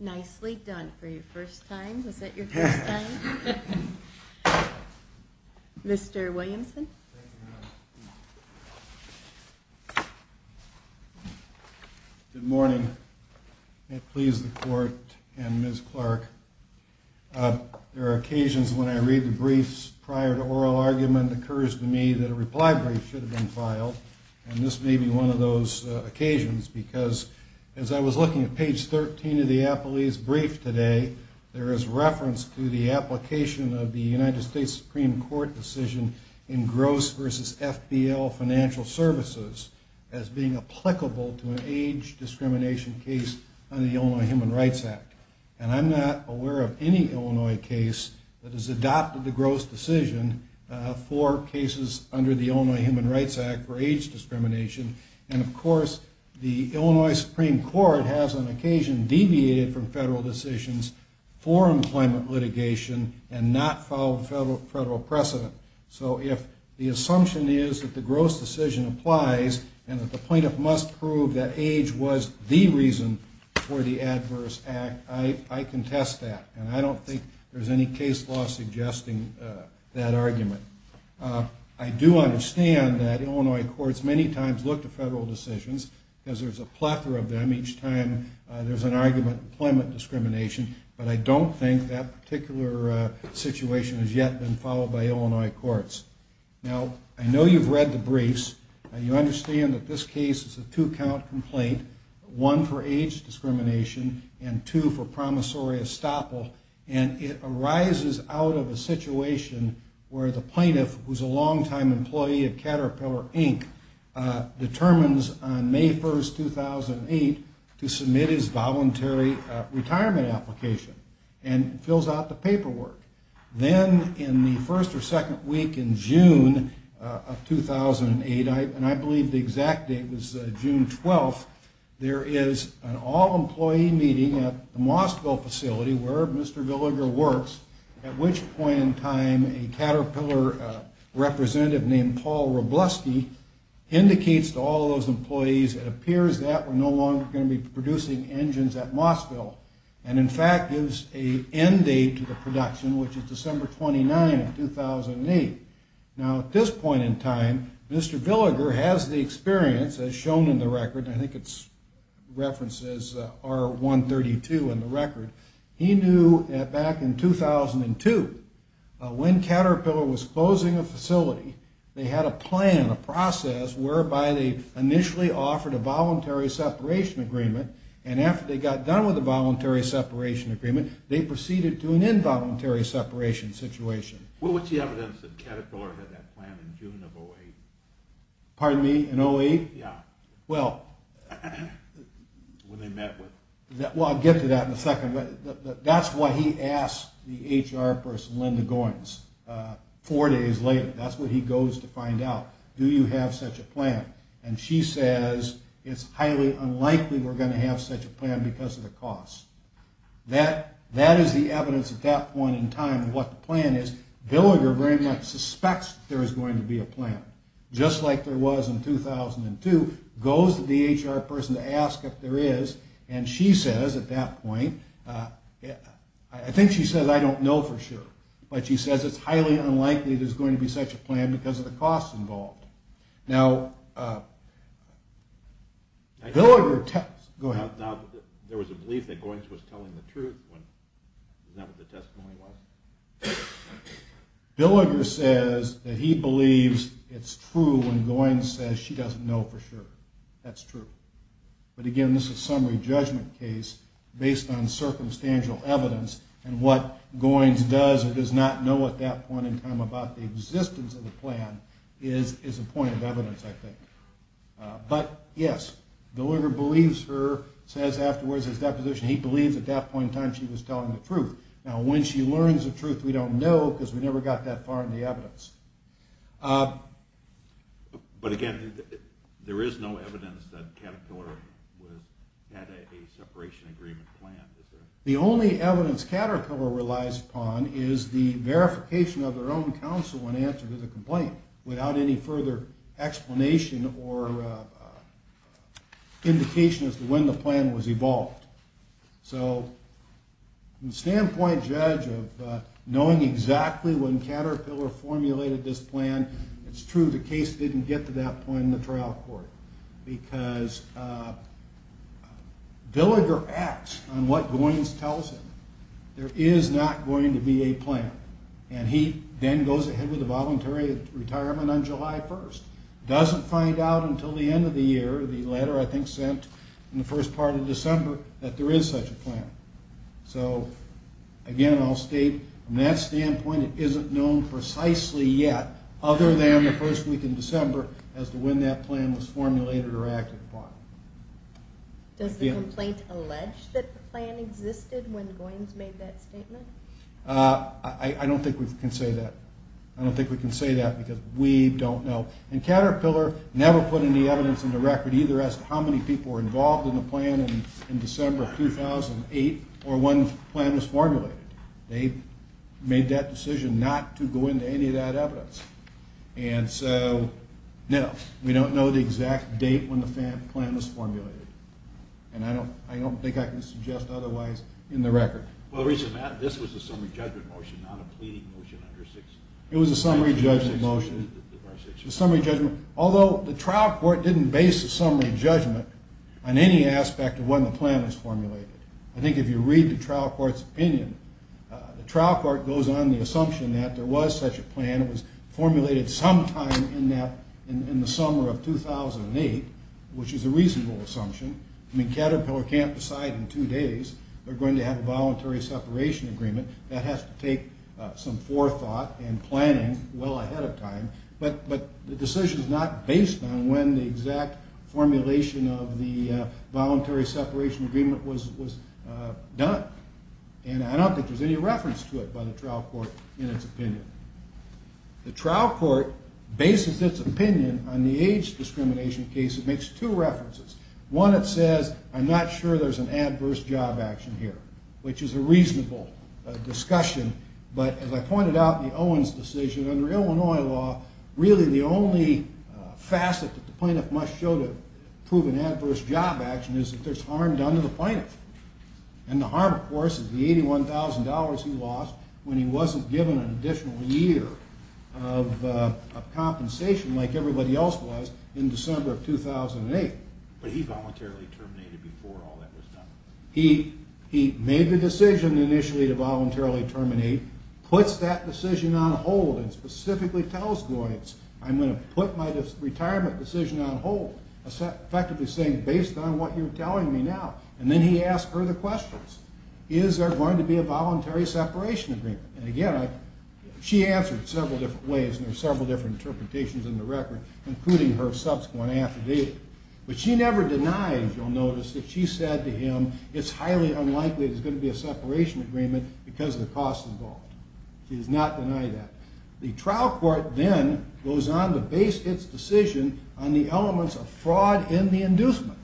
Nicely done for your first time. Was that your first time? Mr. Williamson. Good morning. It pleases the court and Ms. Clark. There are occasions when I read the briefs prior to oral argument, it occurs to me that a reply brief should have been filed. And this may be one of those occasions because as I was looking at page 13 of the appellee's brief today, there is reference to the application of the United States Supreme Court decision in gross versus FBL financial services as being applicable to an age discrimination case under the Illinois Human Rights Act. And I'm not aware of any Illinois case that has adopted the gross decision for cases under the Illinois Human Rights Act for age discrimination. And of course, the Illinois Supreme Court has on occasion deviated from federal decisions for employment litigation and not followed federal precedent. So if the assumption is that the gross decision applies and that the plaintiff must prove that age was the reason for the adverse act, I contest that. And I don't think there's any case law suggesting that argument. I do understand that Illinois courts many times look to federal decisions because there's a plethora of them each time there's an argument for employment discrimination, but I don't think that particular situation has yet been followed by Illinois courts. Now, I know you've read the briefs. You understand that this case is a two-count complaint, one for age discrimination and two for promissory estoppel. And it arises out of a situation where the plaintiff, who's a long-time employee of Caterpillar Inc., determines on May 1, 2008, to submit his voluntary retirement application and fills out the paperwork. Then in the first or second week in June of 2008, and I believe the exact date was June 12, there is an all-employee meeting at the Mossville facility where Mr. Villiger works, at which point in time a Caterpillar representative named Paul Robleski indicates to all those employees it appears that we're no longer going to be producing engines at Mossville. And, in fact, gives an end date to the production, which is December 29, 2008. Now, at this point in time, Mr. Villiger has the experience, as shown in the record, and I think it's referenced as R132 in the record, he knew that back in 2002, when Caterpillar was closing a facility, they had a plan, a process, whereby they initially offered a voluntary separation agreement. And after they got done with the voluntary separation agreement, they proceeded to an involuntary separation situation. Well, what's the evidence that Caterpillar had that plan in June of 2008? Pardon me? In 2008? Yeah. Well... When they met with... Well, I'll get to that in a second, but that's what he asked the HR person, Linda Goins, four days later. That's what he goes to find out. Do you have such a plan? And she says, it's highly unlikely we're going to have such a plan because of the costs. That is the evidence at that point in time of what the plan is. Villiger very much suspects there is going to be a plan. Just like there was in 2002, goes to the HR person to ask if there is, and she says at that point, I think she says I don't know for sure, but she says it's highly unlikely there's going to be such a plan because of the costs involved. Now, Villiger... Go ahead. There was a belief that Goins was telling the truth. Isn't that what the testimony was? Villiger says that he believes it's true when Goins says she doesn't know for sure. That's true. But again, this is a summary judgment case based on circumstantial evidence, and what Goins does or does not know at that point in time about the existence of the plan is a point of evidence, I think. But yes, Villiger believes her, says afterwards in his deposition he believes at that point in time she was telling the truth. Now, when she learns the truth, we don't know because we never got that far in the evidence. But again, there is no evidence that Caterpillar had a separation agreement plan. The only evidence Caterpillar relies upon is the verification of their own counsel in answer to the complaint without any further explanation or indication as to when the plan was evolved. From the standpoint, Judge, of knowing exactly when Caterpillar formulated this plan, it's true the case didn't get to that point in the trial court because Villiger acts on what Goins tells him. There is not going to be a plan. And he then goes ahead with the voluntary retirement on July 1st. Doesn't find out until the end of the year, the letter I think sent in the first part of December, that there is such a plan. So again, I'll state from that standpoint it isn't known precisely yet other than the first week of December as to when that plan was formulated or acted upon. Does the complaint allege that the plan existed when Goins made that statement? I don't think we can say that. I don't think we can say that because we don't know. And Caterpillar never put any evidence in the record either as to how many people were involved in the plan in December 2008 or when the plan was formulated. They made that decision not to go into any of that evidence. And so, no, we don't know the exact date when the plan was formulated. And I don't think I can suggest otherwise in the record. Well, this was a summary judgment motion, not a pleading motion. It was a summary judgment motion. Although the trial court didn't base the summary judgment on any aspect of when the plan was formulated. I think if you read the trial court's opinion, the trial court goes on the assumption that there was such a plan. It was formulated sometime in the summer of 2008, which is a reasonable assumption. I mean, Caterpillar can't decide in two days they're going to have a voluntary separation agreement. That has to take some forethought and planning well ahead of time. But the decision is not based on when the exact formulation of the voluntary separation agreement was done. And I don't think there's any reference to it by the trial court in its opinion. The trial court bases its opinion on the age discrimination case. It makes two references. One, it says, I'm not sure there's an adverse job action here, which is a reasonable discussion. But as I pointed out in the Owens decision, under Illinois law, really the only facet that the plaintiff must show to prove an adverse job action is if there's harm done to the plaintiff. And the harm, of course, is the $81,000 he lost when he wasn't given an additional year of compensation like everybody else was in December of 2008. But he voluntarily terminated before all that was done. He made the decision initially to voluntarily terminate, puts that decision on hold, and specifically tells Goyance, I'm going to put my retirement decision on hold, effectively saying, based on what you're telling me now. And then he asked her the questions. Is there going to be a voluntary separation agreement? And again, she answered several different ways, and there were several different interpretations in the record, including her subsequent affidavit. But she never denied, as you'll notice, that she said to him, it's highly unlikely there's going to be a separation agreement because of the costs involved. She does not deny that. The trial court then goes on to base its decision on the elements of fraud in the inducement,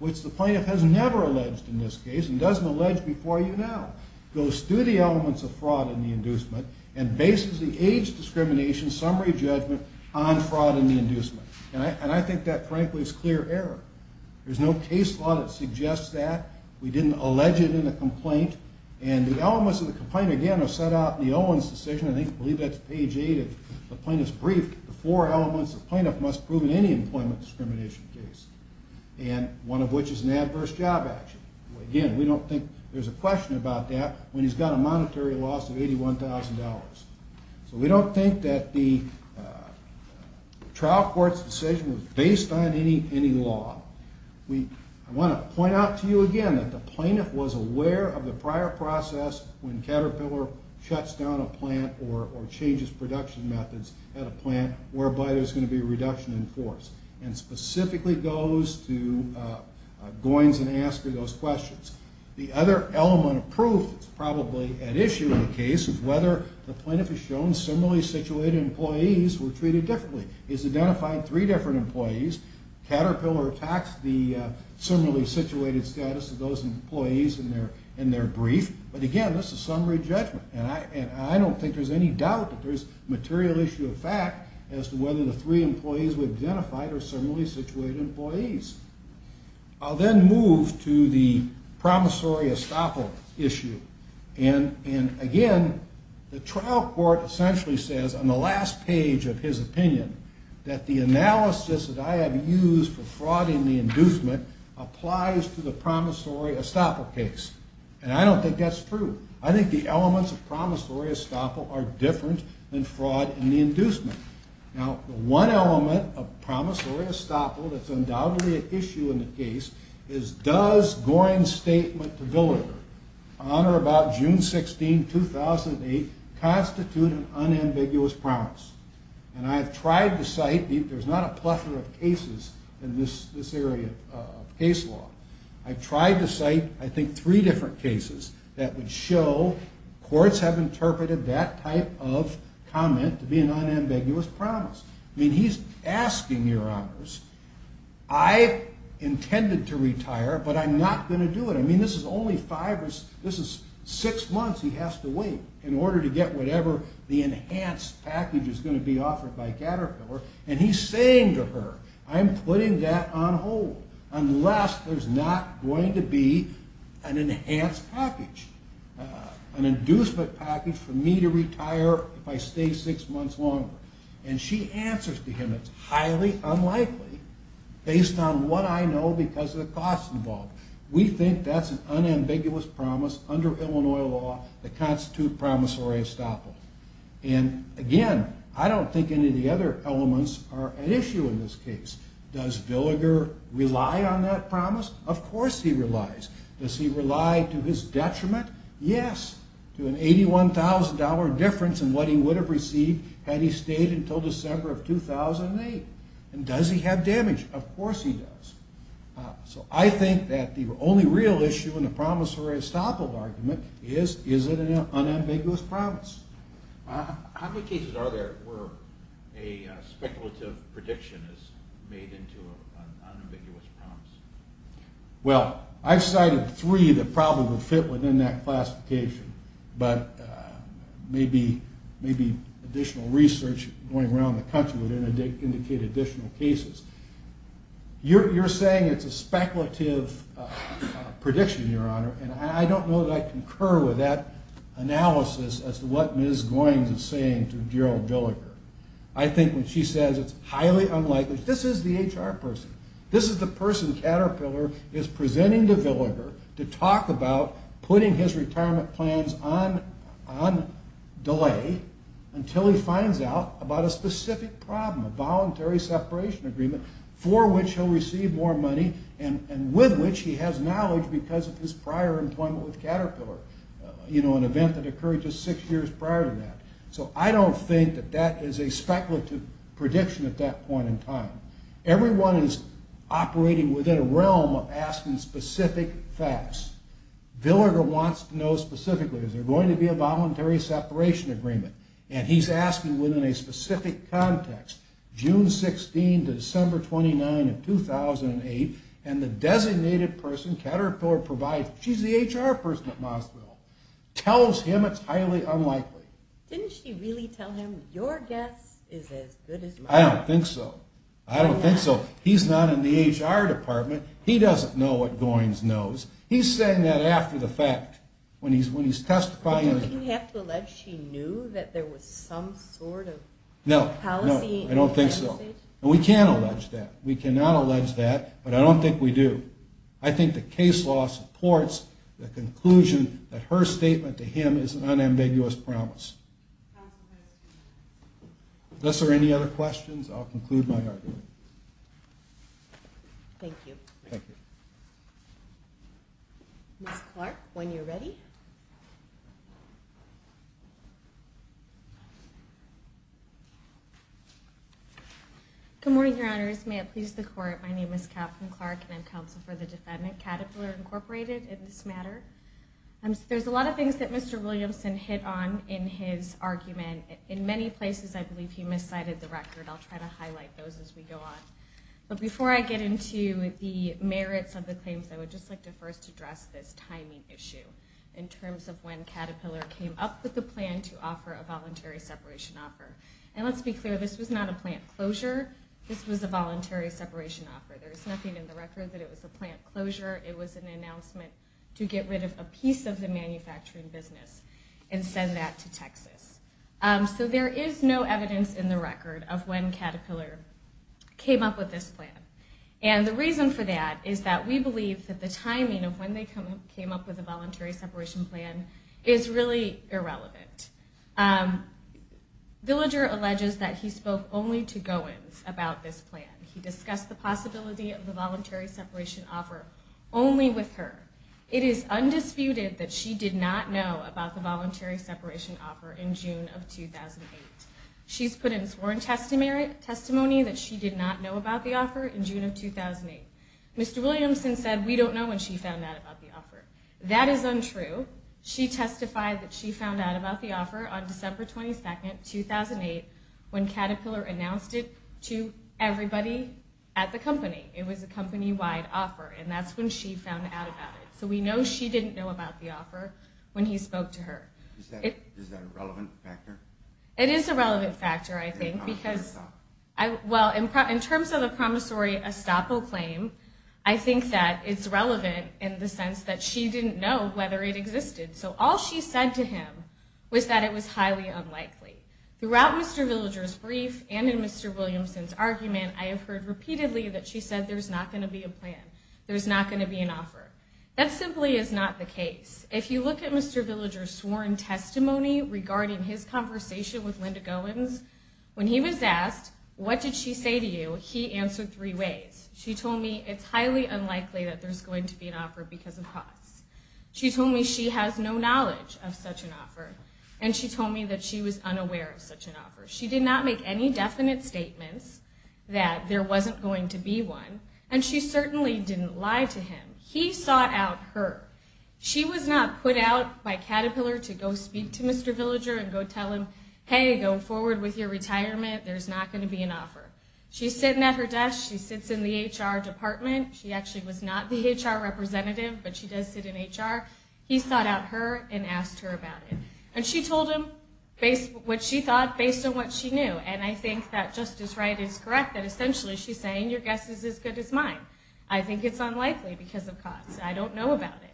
which the plaintiff has never alleged in this case and doesn't allege before you now. It goes through the elements of fraud in the inducement and bases the age discrimination summary judgment on fraud in the inducement. And I think that, frankly, is clear error. There's no case law that suggests that. We didn't allege it in the complaint. And the elements of the complaint, again, are set out in the Owens decision. I believe that's page 8 of the plaintiff's brief. The four elements the plaintiff must prove in any employment discrimination case, and one of which is an adverse job action. Again, we don't think there's a question about that when he's got a monetary loss of $81,000. So we don't think that the trial court's decision was based on any law. I want to point out to you again that the plaintiff was aware of the prior process when Caterpillar shuts down a plant or changes production methods at a plant, whereby there's going to be a reduction in force, and specifically goes to Goins and Asker, those questions. The other element of proof that's probably at issue in the case is whether the plaintiff has shown similarly situated employees were treated differently. He's identified three different employees. Caterpillar attacks the similarly situated status of those employees in their brief. But, again, that's a summary judgment. And I don't think there's any doubt that there's material issue of fact as to whether the three employees we've identified are similarly situated employees. I'll then move to the promissory estoppel issue. And, again, the trial court essentially says on the last page of his opinion that the analysis that I have used for fraud in the inducement applies to the promissory estoppel case. And I don't think that's true. I think the elements of promissory estoppel are different than fraud in the inducement. Now, the one element of promissory estoppel that's undoubtedly at issue in the case is does Goins' statement to Villager on or about June 16, 2008, constitute an unambiguous promise? And I have tried to cite, there's not a plethora of cases in this area of case law. I've tried to cite, I think, three different cases that would show courts have interpreted that type of comment to be an unambiguous promise. I mean, he's asking your honors, I intended to retire, but I'm not going to do it. I mean, this is only five or six months he has to wait in order to get whatever the enhanced package is going to be offered by Caterpillar. And he's saying to her, I'm putting that on hold unless there's not going to be an enhanced package, an inducement package for me to retire if I stay six months longer. And she answers to him, it's highly unlikely based on what I know because of the costs involved. We think that's an unambiguous promise under Illinois law that constitutes promissory estoppel. And again, I don't think any of the other elements are at issue in this case. Does Villager rely on that promise? Of course he relies. Does he rely to his detriment? Yes. To an $81,000 difference in what he would have received had he stayed until December of 2008. And does he have damage? Of course he does. So I think that the only real issue in the promissory estoppel argument is, is it an unambiguous promise? How many cases are there where a speculative prediction is made into an unambiguous promise? Well, I've cited three that probably would fit within that classification. But maybe additional research going around the country would indicate additional cases. You're saying it's a speculative prediction, Your Honor, and I don't know that I concur with that analysis as to what Ms. Goins is saying to Gerald Villager. I think when she says it's highly unlikely, this is the HR person. This is the person Caterpillar is presenting to Villager to talk about putting his retirement plans on delay until he finds out about a specific problem, a voluntary separation agreement, for which he'll receive more money and with which he has knowledge because of his prior employment with Caterpillar. You know, an event that occurred just six years prior to that. So I don't think that that is a speculative prediction at that point in time. Everyone is operating within a realm of asking specific facts. Villager wants to know specifically, is there going to be a voluntary separation agreement? And he's asking within a specific context, June 16 to December 29 of 2008, and the designated person Caterpillar provides, she's the HR person at Mossville, tells him it's highly unlikely. Didn't she really tell him, your guess is as good as mine? I don't think so. I don't think so. He's not in the HR department. He doesn't know what Goins knows. He's saying that after the fact when he's testifying. Don't you have to allege she knew that there was some sort of policy message? No, no, I don't think so. And we can't allege that. We cannot allege that, but I don't think we do. I think the case law supports the conclusion that her statement to him is an unambiguous promise. Unless there are any other questions, I'll conclude my argument. Thank you. Ms. Clark, when you're ready. Good morning, Your Honors. May it please the Court, my name is Kathryn Clark, and I'm counsel for the defendant, Caterpillar Incorporated, in this matter. There's a lot of things that Mr. Williamson hit on in his argument. In many places I believe he miscited the record. I'll try to highlight those as we go on. But before I get into the merits of the claims, I would just like to first address this timing issue in terms of when Caterpillar came up with the plan to offer a voluntary separation offer. And let's be clear, this was not a plant closure. This was a voluntary separation offer. There is nothing in the record that it was a plant closure. It was an announcement to get rid of a piece of the manufacturing business and send that to Texas. So there is no evidence in the record of when Caterpillar came up with this plan. And the reason for that is that we believe that the timing of when they came up with the voluntary separation plan is really irrelevant. Villager alleges that he spoke only to Goins about this plan. He discussed the possibility of the voluntary separation offer only with her. It is undisputed that she did not know about the voluntary separation offer in June of 2008. She's put in sworn testimony that she did not know about the offer in June of 2008. Mr. Williamson said we don't know when she found out about the offer. That is untrue. She testified that she found out about the offer on December 22, 2008, when Caterpillar announced it to everybody at the company. It was a company-wide offer, and that's when she found out about it. So we know she didn't know about the offer when he spoke to her. Is that a relevant factor? It is a relevant factor, I think, because... Well, in terms of a promissory estoppel claim, I think that it's relevant in the sense that she didn't know whether it existed. So all she said to him was that it was highly unlikely. Throughout Mr. Villager's brief and in Mr. Williamson's argument, I have heard repeatedly that she said there's not going to be a plan, there's not going to be an offer. That simply is not the case. If you look at Mr. Villager's sworn testimony regarding his conversation with Linda Goins, when he was asked, what did she say to you, he answered three ways. She told me it's highly unlikely that there's going to be an offer because of costs. She told me she has no knowledge of such an offer, and she told me that she was unaware of such an offer. She did not make any definite statements that there wasn't going to be one, and she certainly didn't lie to him. He sought out her. She was not put out by Caterpillar to go speak to Mr. Villager and go tell him, hey, go forward with your retirement, there's not going to be an offer. She's sitting at her desk. She sits in the HR department. She actually was not the HR representative, but she does sit in HR. He sought out her and asked her about it. And she told him what she thought based on what she knew, and I think that Justice Wright is correct that essentially she's saying your guess is as good as mine. I think it's unlikely because of costs. I don't know about it.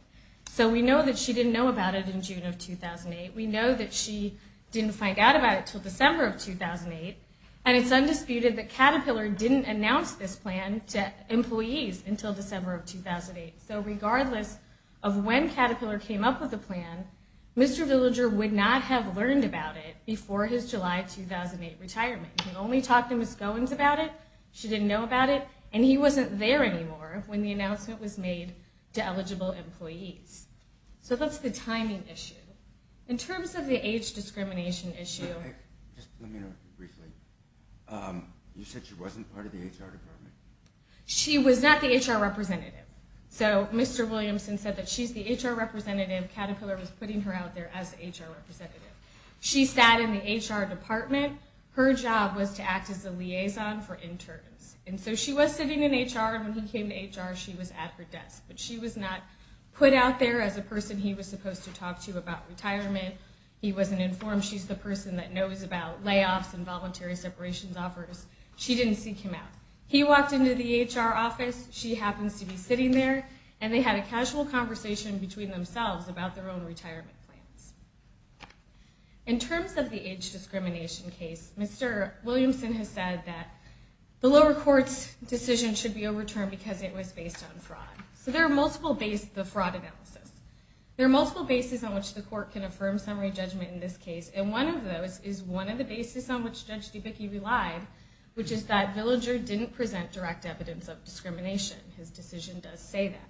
So we know that she didn't know about it in June of 2008. We know that she didn't find out about it until December of 2008, and it's undisputed that Caterpillar didn't announce this plan to employees until December of 2008. So regardless of when Caterpillar came up with the plan, Mr. Villager would not have learned about it before his July 2008 retirement. He only talked to Ms. Goins about it. She didn't know about it. And he wasn't there anymore when the announcement was made to eligible employees. So that's the timing issue. In terms of the age discrimination issue. Just let me know briefly. You said she wasn't part of the HR department? She was not the HR representative. So Mr. Williamson said that she's the HR representative. Caterpillar was putting her out there as the HR representative. She sat in the HR department. Her job was to act as a liaison for interns. And so she was sitting in HR, and when he came to HR, she was at her desk. But she was not put out there as a person he was supposed to talk to about retirement. He wasn't informed. She's the person that knows about layoffs and voluntary separations offers. She didn't seek him out. He walked into the HR office. She happens to be sitting there. And they had a casual conversation between themselves about their own retirement plans. In terms of the age discrimination case, Mr. Williamson has said that the lower court's decision should be overturned because it was based on fraud. So there are multiple bases of fraud analysis. There are multiple bases on which the court can affirm summary judgment in this case. And one of those is one of the bases on which Judge Debicki relied, which is that Villager didn't present direct evidence of discrimination. His decision does say that.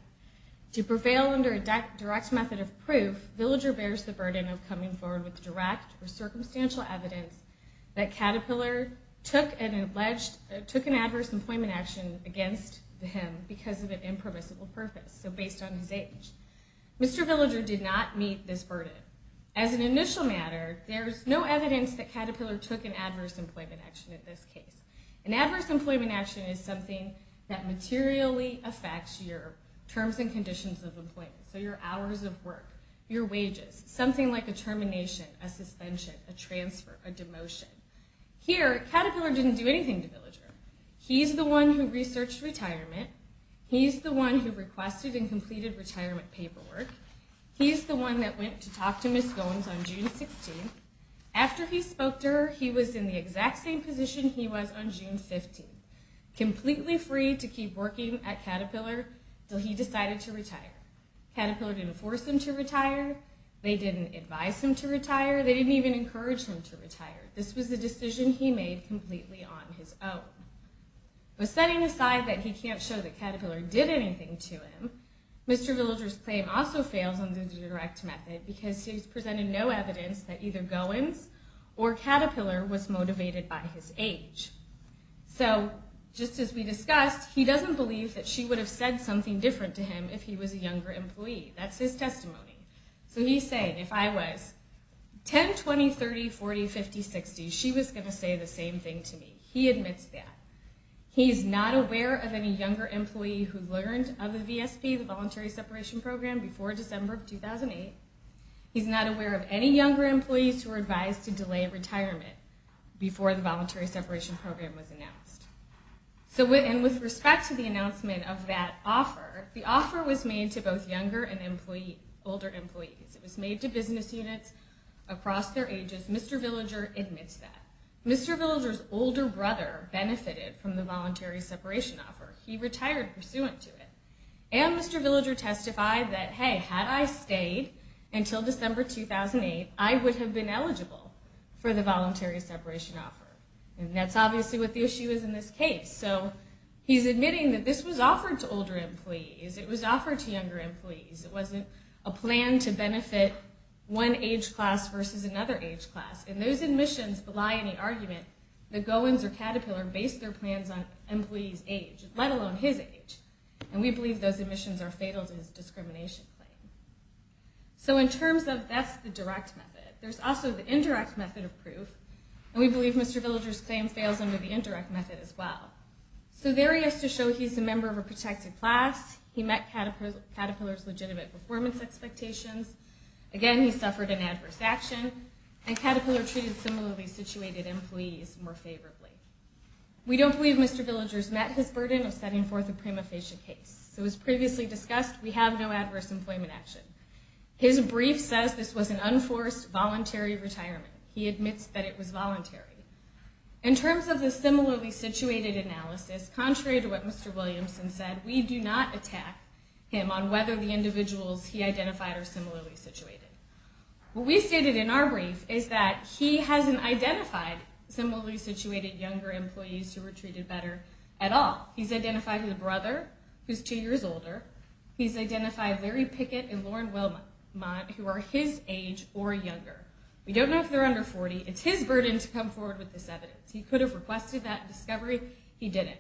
To prevail under a direct method of proof, Villager bears the burden of coming forward with direct or circumstantial evidence that Caterpillar took an adverse employment action against him because of an impermissible purpose, so based on his age. Mr. Villager did not meet this burden. As an initial matter, there's no evidence that Caterpillar took an adverse employment action in this case. An adverse employment action is something that materially affects your terms and conditions of employment, so your hours of work, your wages, something like a termination, a suspension, a transfer, a demotion. Here, Caterpillar didn't do anything to Villager. He's the one who researched retirement. He's the one who requested and completed retirement paperwork. He's the one that went to talk to Ms. Goins on June 16th. After he spoke to her, he was in the exact same position he was on June 15th, completely free to keep working at Caterpillar until he decided to retire. Caterpillar didn't force him to retire. They didn't advise him to retire. They didn't even encourage him to retire. This was a decision he made completely on his own. Setting aside that he can't show that Caterpillar did anything to him, Mr. Villager's claim also fails under the direct method because he's presented no evidence that either Goins or Caterpillar was motivated by his age. So just as we discussed, he doesn't believe that she would have said something different to him if he was a younger employee. That's his testimony. So he's saying, if I was 10, 20, 30, 40, 50, 60, she was going to say the same thing to me. He admits that. He's not aware of any younger employee who learned of the VSP, the Voluntary Separation Program, before December of 2008. He's not aware of any younger employees who were advised to delay retirement before the Voluntary Separation Program was announced. With respect to the announcement of that offer, the offer was made to both younger and older employees. It was made to business units across their ages. Mr. Villager admits that. Mr. Villager's older brother benefited from the voluntary separation offer. He retired pursuant to it. And Mr. Villager testified that, hey, had I stayed until December 2008, I would have been eligible for the voluntary separation offer. And that's obviously what the issue is in this case. So he's admitting that this was offered to older employees. It was offered to younger employees. It wasn't a plan to benefit one age class versus another age class. And those admissions belie any argument that Goins or Caterpillar based their plans on employees' age, let alone his age. And we believe those admissions are fatal to his discrimination claim. So in terms of that's the direct method. There's also the indirect method of proof. And we believe Mr. Villager's claim fails under the indirect method as well. So there he is to show he's a member of a protected class. He met Caterpillar's legitimate performance expectations. Again, he suffered an adverse action. And Caterpillar treated similarly situated employees more favorably. We don't believe Mr. Villager's met his burden of setting forth a prima facie case. So as previously discussed, we have no adverse employment action. His brief says this was an unforced voluntary retirement. He admits that it was voluntary. In terms of the similarly situated analysis, contrary to what Mr. Williamson said, we do not attack him on whether the individuals he identified are similarly situated. What we stated in our brief is that he hasn't identified similarly situated younger employees who were treated better at all. He's identified his brother, who's two years older. He's identified Larry Pickett and Lauren Wilmont, who are his age or younger. We don't know if they're under 40. It's his burden to come forward with this evidence. He could have requested that discovery. He didn't.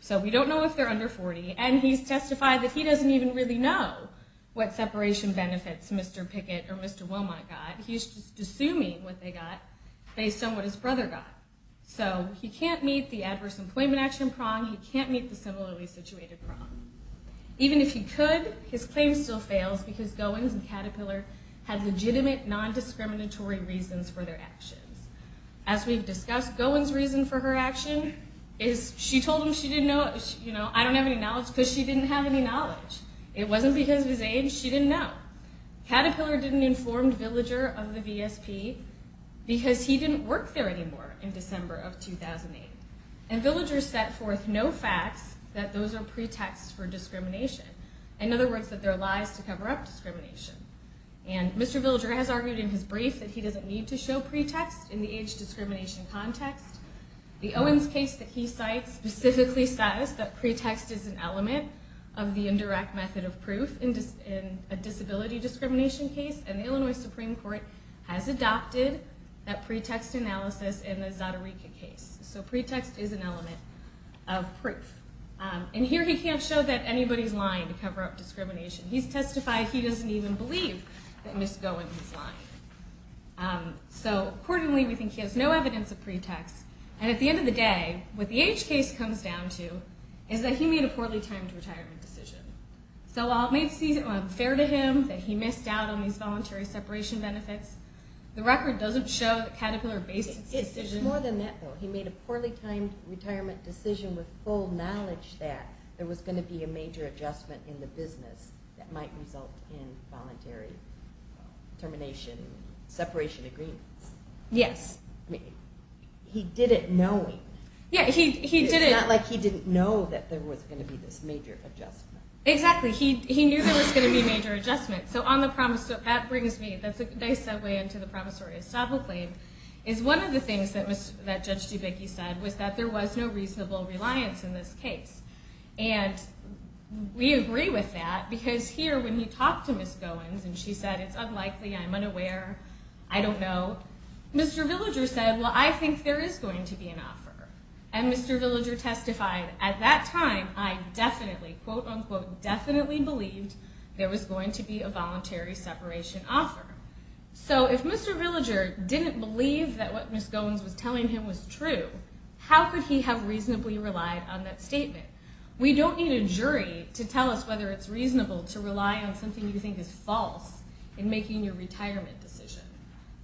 So we don't know if they're under 40. And he's testified that he doesn't even really know what separation benefits Mr. Pickett or Mr. Wilmont got. He's just assuming what they got based on what his brother got. So he can't meet the adverse employment action prong. He can't meet the similarly situated prong. Even if he could, his claim still fails because Goins and Caterpillar had legitimate, non-discriminatory reasons for their actions. As we've discussed, Goins' reason for her action is she told him she didn't know. You know, I don't have any knowledge because she didn't have any knowledge. It wasn't because of his age. She didn't know. Caterpillar didn't inform Villager of the VSP because he didn't work there anymore in December of 2008. And Villager set forth no facts that those are pretexts for discrimination. In other words, that they're lies to cover up discrimination. And Mr. Villager has argued in his brief that he doesn't need to show pretexts in the age discrimination context. The Owens case that he cites specifically says that pretext is an element of the indirect method of proof in a disability discrimination case. And the Illinois Supreme Court has adopted that pretext analysis in the Zotereka case. So pretext is an element of proof. And here he can't show that anybody's lying to cover up discrimination. He's testified he doesn't even believe that Ms. Goins is lying. So accordingly, we think he has no evidence of pretext. And at the end of the day, what the age case comes down to is that he made a poorly timed retirement decision. So while it may seem fair to him that he missed out on these voluntary separation benefits, the record doesn't show that Caterpillar based its decision... It's more than that, though. He made a poorly timed retirement decision with full knowledge that there was going to be a major adjustment in the business that might result in voluntary termination, separation agreements. Yes. He did it knowing. Yeah, he did it... It's not like he didn't know that there was going to be this major adjustment. Exactly. He knew there was going to be a major adjustment. So on the promissory... That brings me... That's a nice segue into the promissory estoppel claim, is one of the things that Judge Dubecki said was that there was no reasonable reliance in this case. And we agree with that, because here, when he talked to Ms. Goins, and she said, it's unlikely, I'm unaware, I don't know, Mr. Villager said, well, I think there is going to be an offer. And Mr. Villager testified, at that time, I definitely, quote, unquote, definitely believed there was going to be a voluntary separation offer. So if Mr. Villager didn't believe that what Ms. Goins was telling him was true, how could he have reasonably relied on that statement? We don't need a jury to tell us whether it's reasonable to rely on something you think is false in making your retirement decision.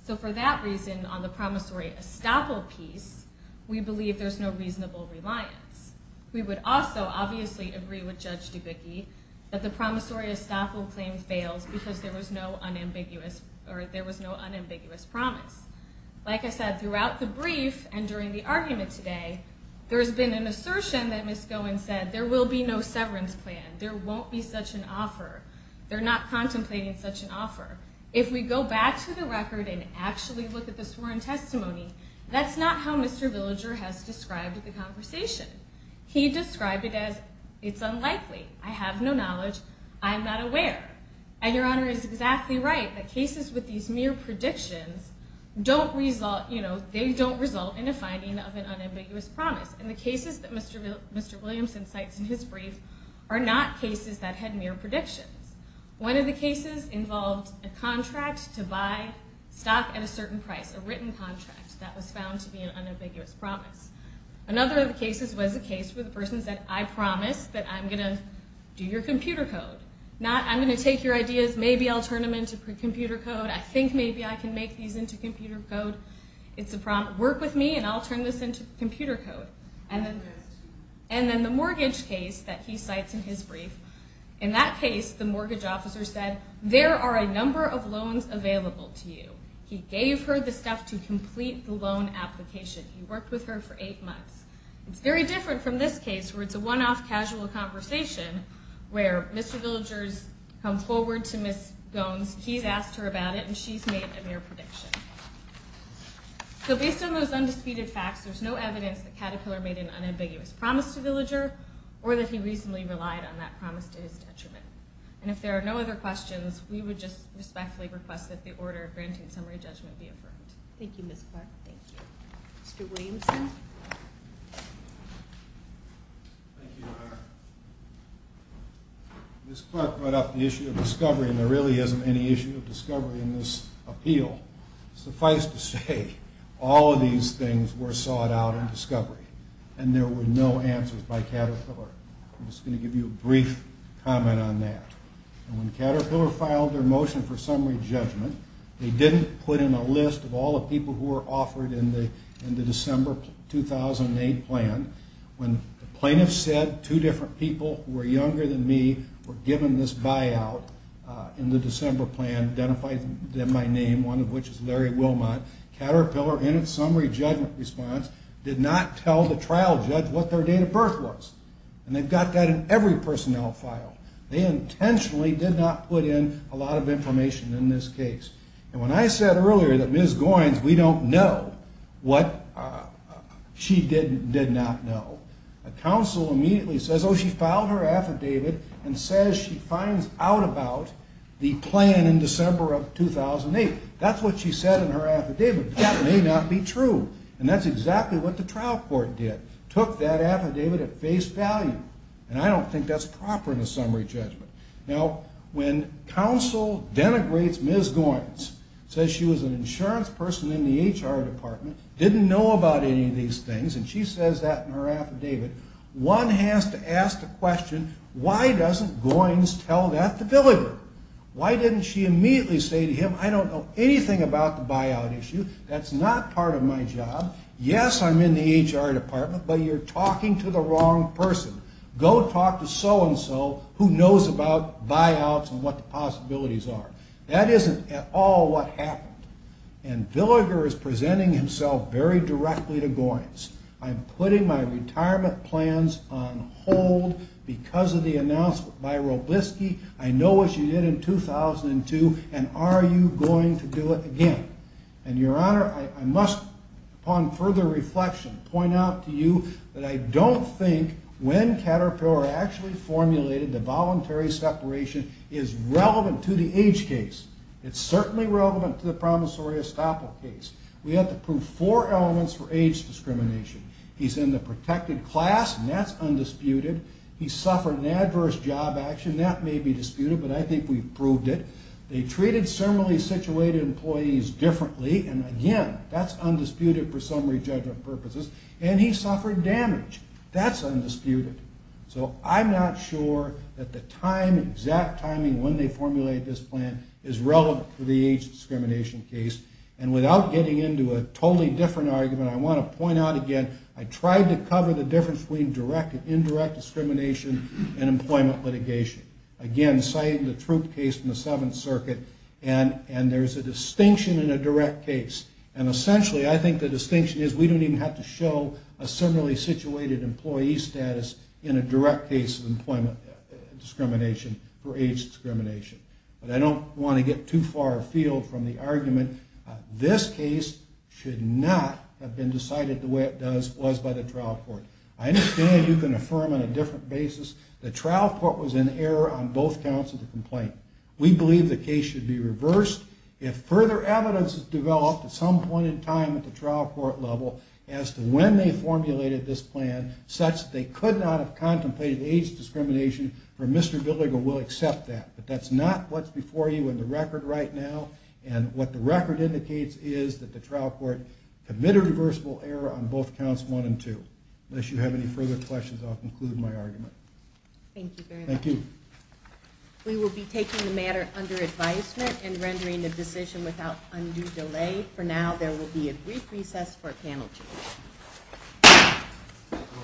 So for that reason, on the promissory estoppel piece, we believe there's no reasonable reliance. We would also, obviously, agree with Judge Dubecki that the promissory estoppel claim fails because there was no unambiguous promise. Like I said, throughout the brief and during the argument today, there's been an assertion that Ms. Goins said, there will be no severance plan, there won't be such an offer, they're not contemplating such an offer. If we go back to the record and actually look at the sworn testimony, that's not how Mr. Villager has described the conversation. He described it as, it's unlikely, I have no knowledge, I'm not aware. And Your Honor is exactly right. The cases with these mere predictions, they don't result in a finding of an unambiguous promise. And the cases that Mr. Williamson cites in his brief are not cases that had mere predictions. One of the cases involved a contract to buy stock at a certain price, a written contract that was found to be an unambiguous promise. Another of the cases was a case where the person said, I promise that I'm going to do your computer code. I'm going to take your ideas, maybe I'll turn them into computer code, I think maybe I can make these into computer code. Work with me and I'll turn this into computer code. And then the mortgage case that he cites in his brief, in that case the mortgage officer said, there are a number of loans available to you. He gave her the stuff to complete the loan application. He worked with her for eight months. It's very different from this case where it's a one-off casual conversation where Mr. Villager's come forward to Ms. Goins, he's asked her about it, and she's made a mere prediction. So based on those undisputed facts, there's no evidence that Caterpillar made an unambiguous promise to Villager or that he reasonably relied on that promise to his detriment. And if there are no other questions, we would just respectfully request that the order of granting summary judgment be affirmed. Thank you, Ms. Clark. Thank you. Mr. Williamson? Thank you, Your Honor. Ms. Clark brought up the issue of discovery, and there really isn't any issue of discovery in this appeal. Suffice to say, all of these things were sought out in discovery, and there were no answers by Caterpillar. I'm just going to give you a brief comment on that. When Caterpillar filed their motion for summary judgment, they didn't put in a list of all the people who were offered in the December 2008 plan. When the plaintiffs said two different people who were younger than me were given this buyout in the December plan, identified them by name, one of which is Larry Wilmot, Caterpillar, in its summary judgment response, did not tell the trial judge what their date of birth was. And they've got that in every personnel file. They intentionally did not put in a lot of information in this case. And when I said earlier that Ms. Goins, we don't know what she did not know, a counsel immediately says, oh, she filed her affidavit and says she finds out about the plan in December of 2008. That's what she said in her affidavit. That may not be true. And that's exactly what the trial court did, took that affidavit at face value. And I don't think that's proper in a summary judgment. Now, when counsel denigrates Ms. Goins, says she was an insurance person in the HR department, didn't know about any of these things, and she says that in her affidavit, one has to ask the question, why doesn't Goins tell that to Villiger? Why didn't she immediately say to him, I don't know anything about the buyout issue. That's not part of my job. Yes, I'm in the HR department, but you're talking to the wrong person. Go talk to so-and-so who knows about buyouts and what the possibilities are. That isn't at all what happened. And Villiger is presenting himself very directly to Goins. I'm putting my retirement plans on hold because of the announcement by Robleski. I know what you did in 2002, and are you going to do it again? And, Your Honor, I must, upon further reflection, point out to you that I don't think when Caterpillar actually formulated the voluntary separation is relevant to the age case. It's certainly relevant to the promissory estoppel case. We have to prove four elements for age discrimination. He's in the protected class, and that's undisputed. He suffered an adverse job action. That may be disputed, but I think we've proved it. They treated similarly situated employees differently, and, again, that's undisputed for summary judgment purposes. And he suffered damage. That's undisputed. So I'm not sure that the exact timing when they formulate this plan is relevant to the age discrimination case. And without getting into a totally different argument, I want to point out again I tried to cover the difference between direct and indirect discrimination in employment litigation. Again, citing the Troop case from the Seventh Circuit, and there's a distinction in a direct case. And essentially I think the distinction is we don't even have to show a similarly situated employee status in a direct case of employment discrimination for age discrimination. But I don't want to get too far afield from the argument. This case should not have been decided the way it was by the trial court. I understand you can affirm on a different basis the trial court was in error on both counts of the complaint. We believe the case should be reversed. If further evidence is developed at some point in time at the trial court level as to when they formulated this plan, such that they could not have contemplated age discrimination for Mr. Billiger, we'll accept that. But that's not what's before you in the record right now. And what the record indicates is that the trial court committed reversible error on both counts 1 and 2. Unless you have any further questions, I'll conclude my argument. Thank you very much. We will be taking the matter under advisement and rendering the decision without undue delay. For now, there will be a brief recess for a panel discussion.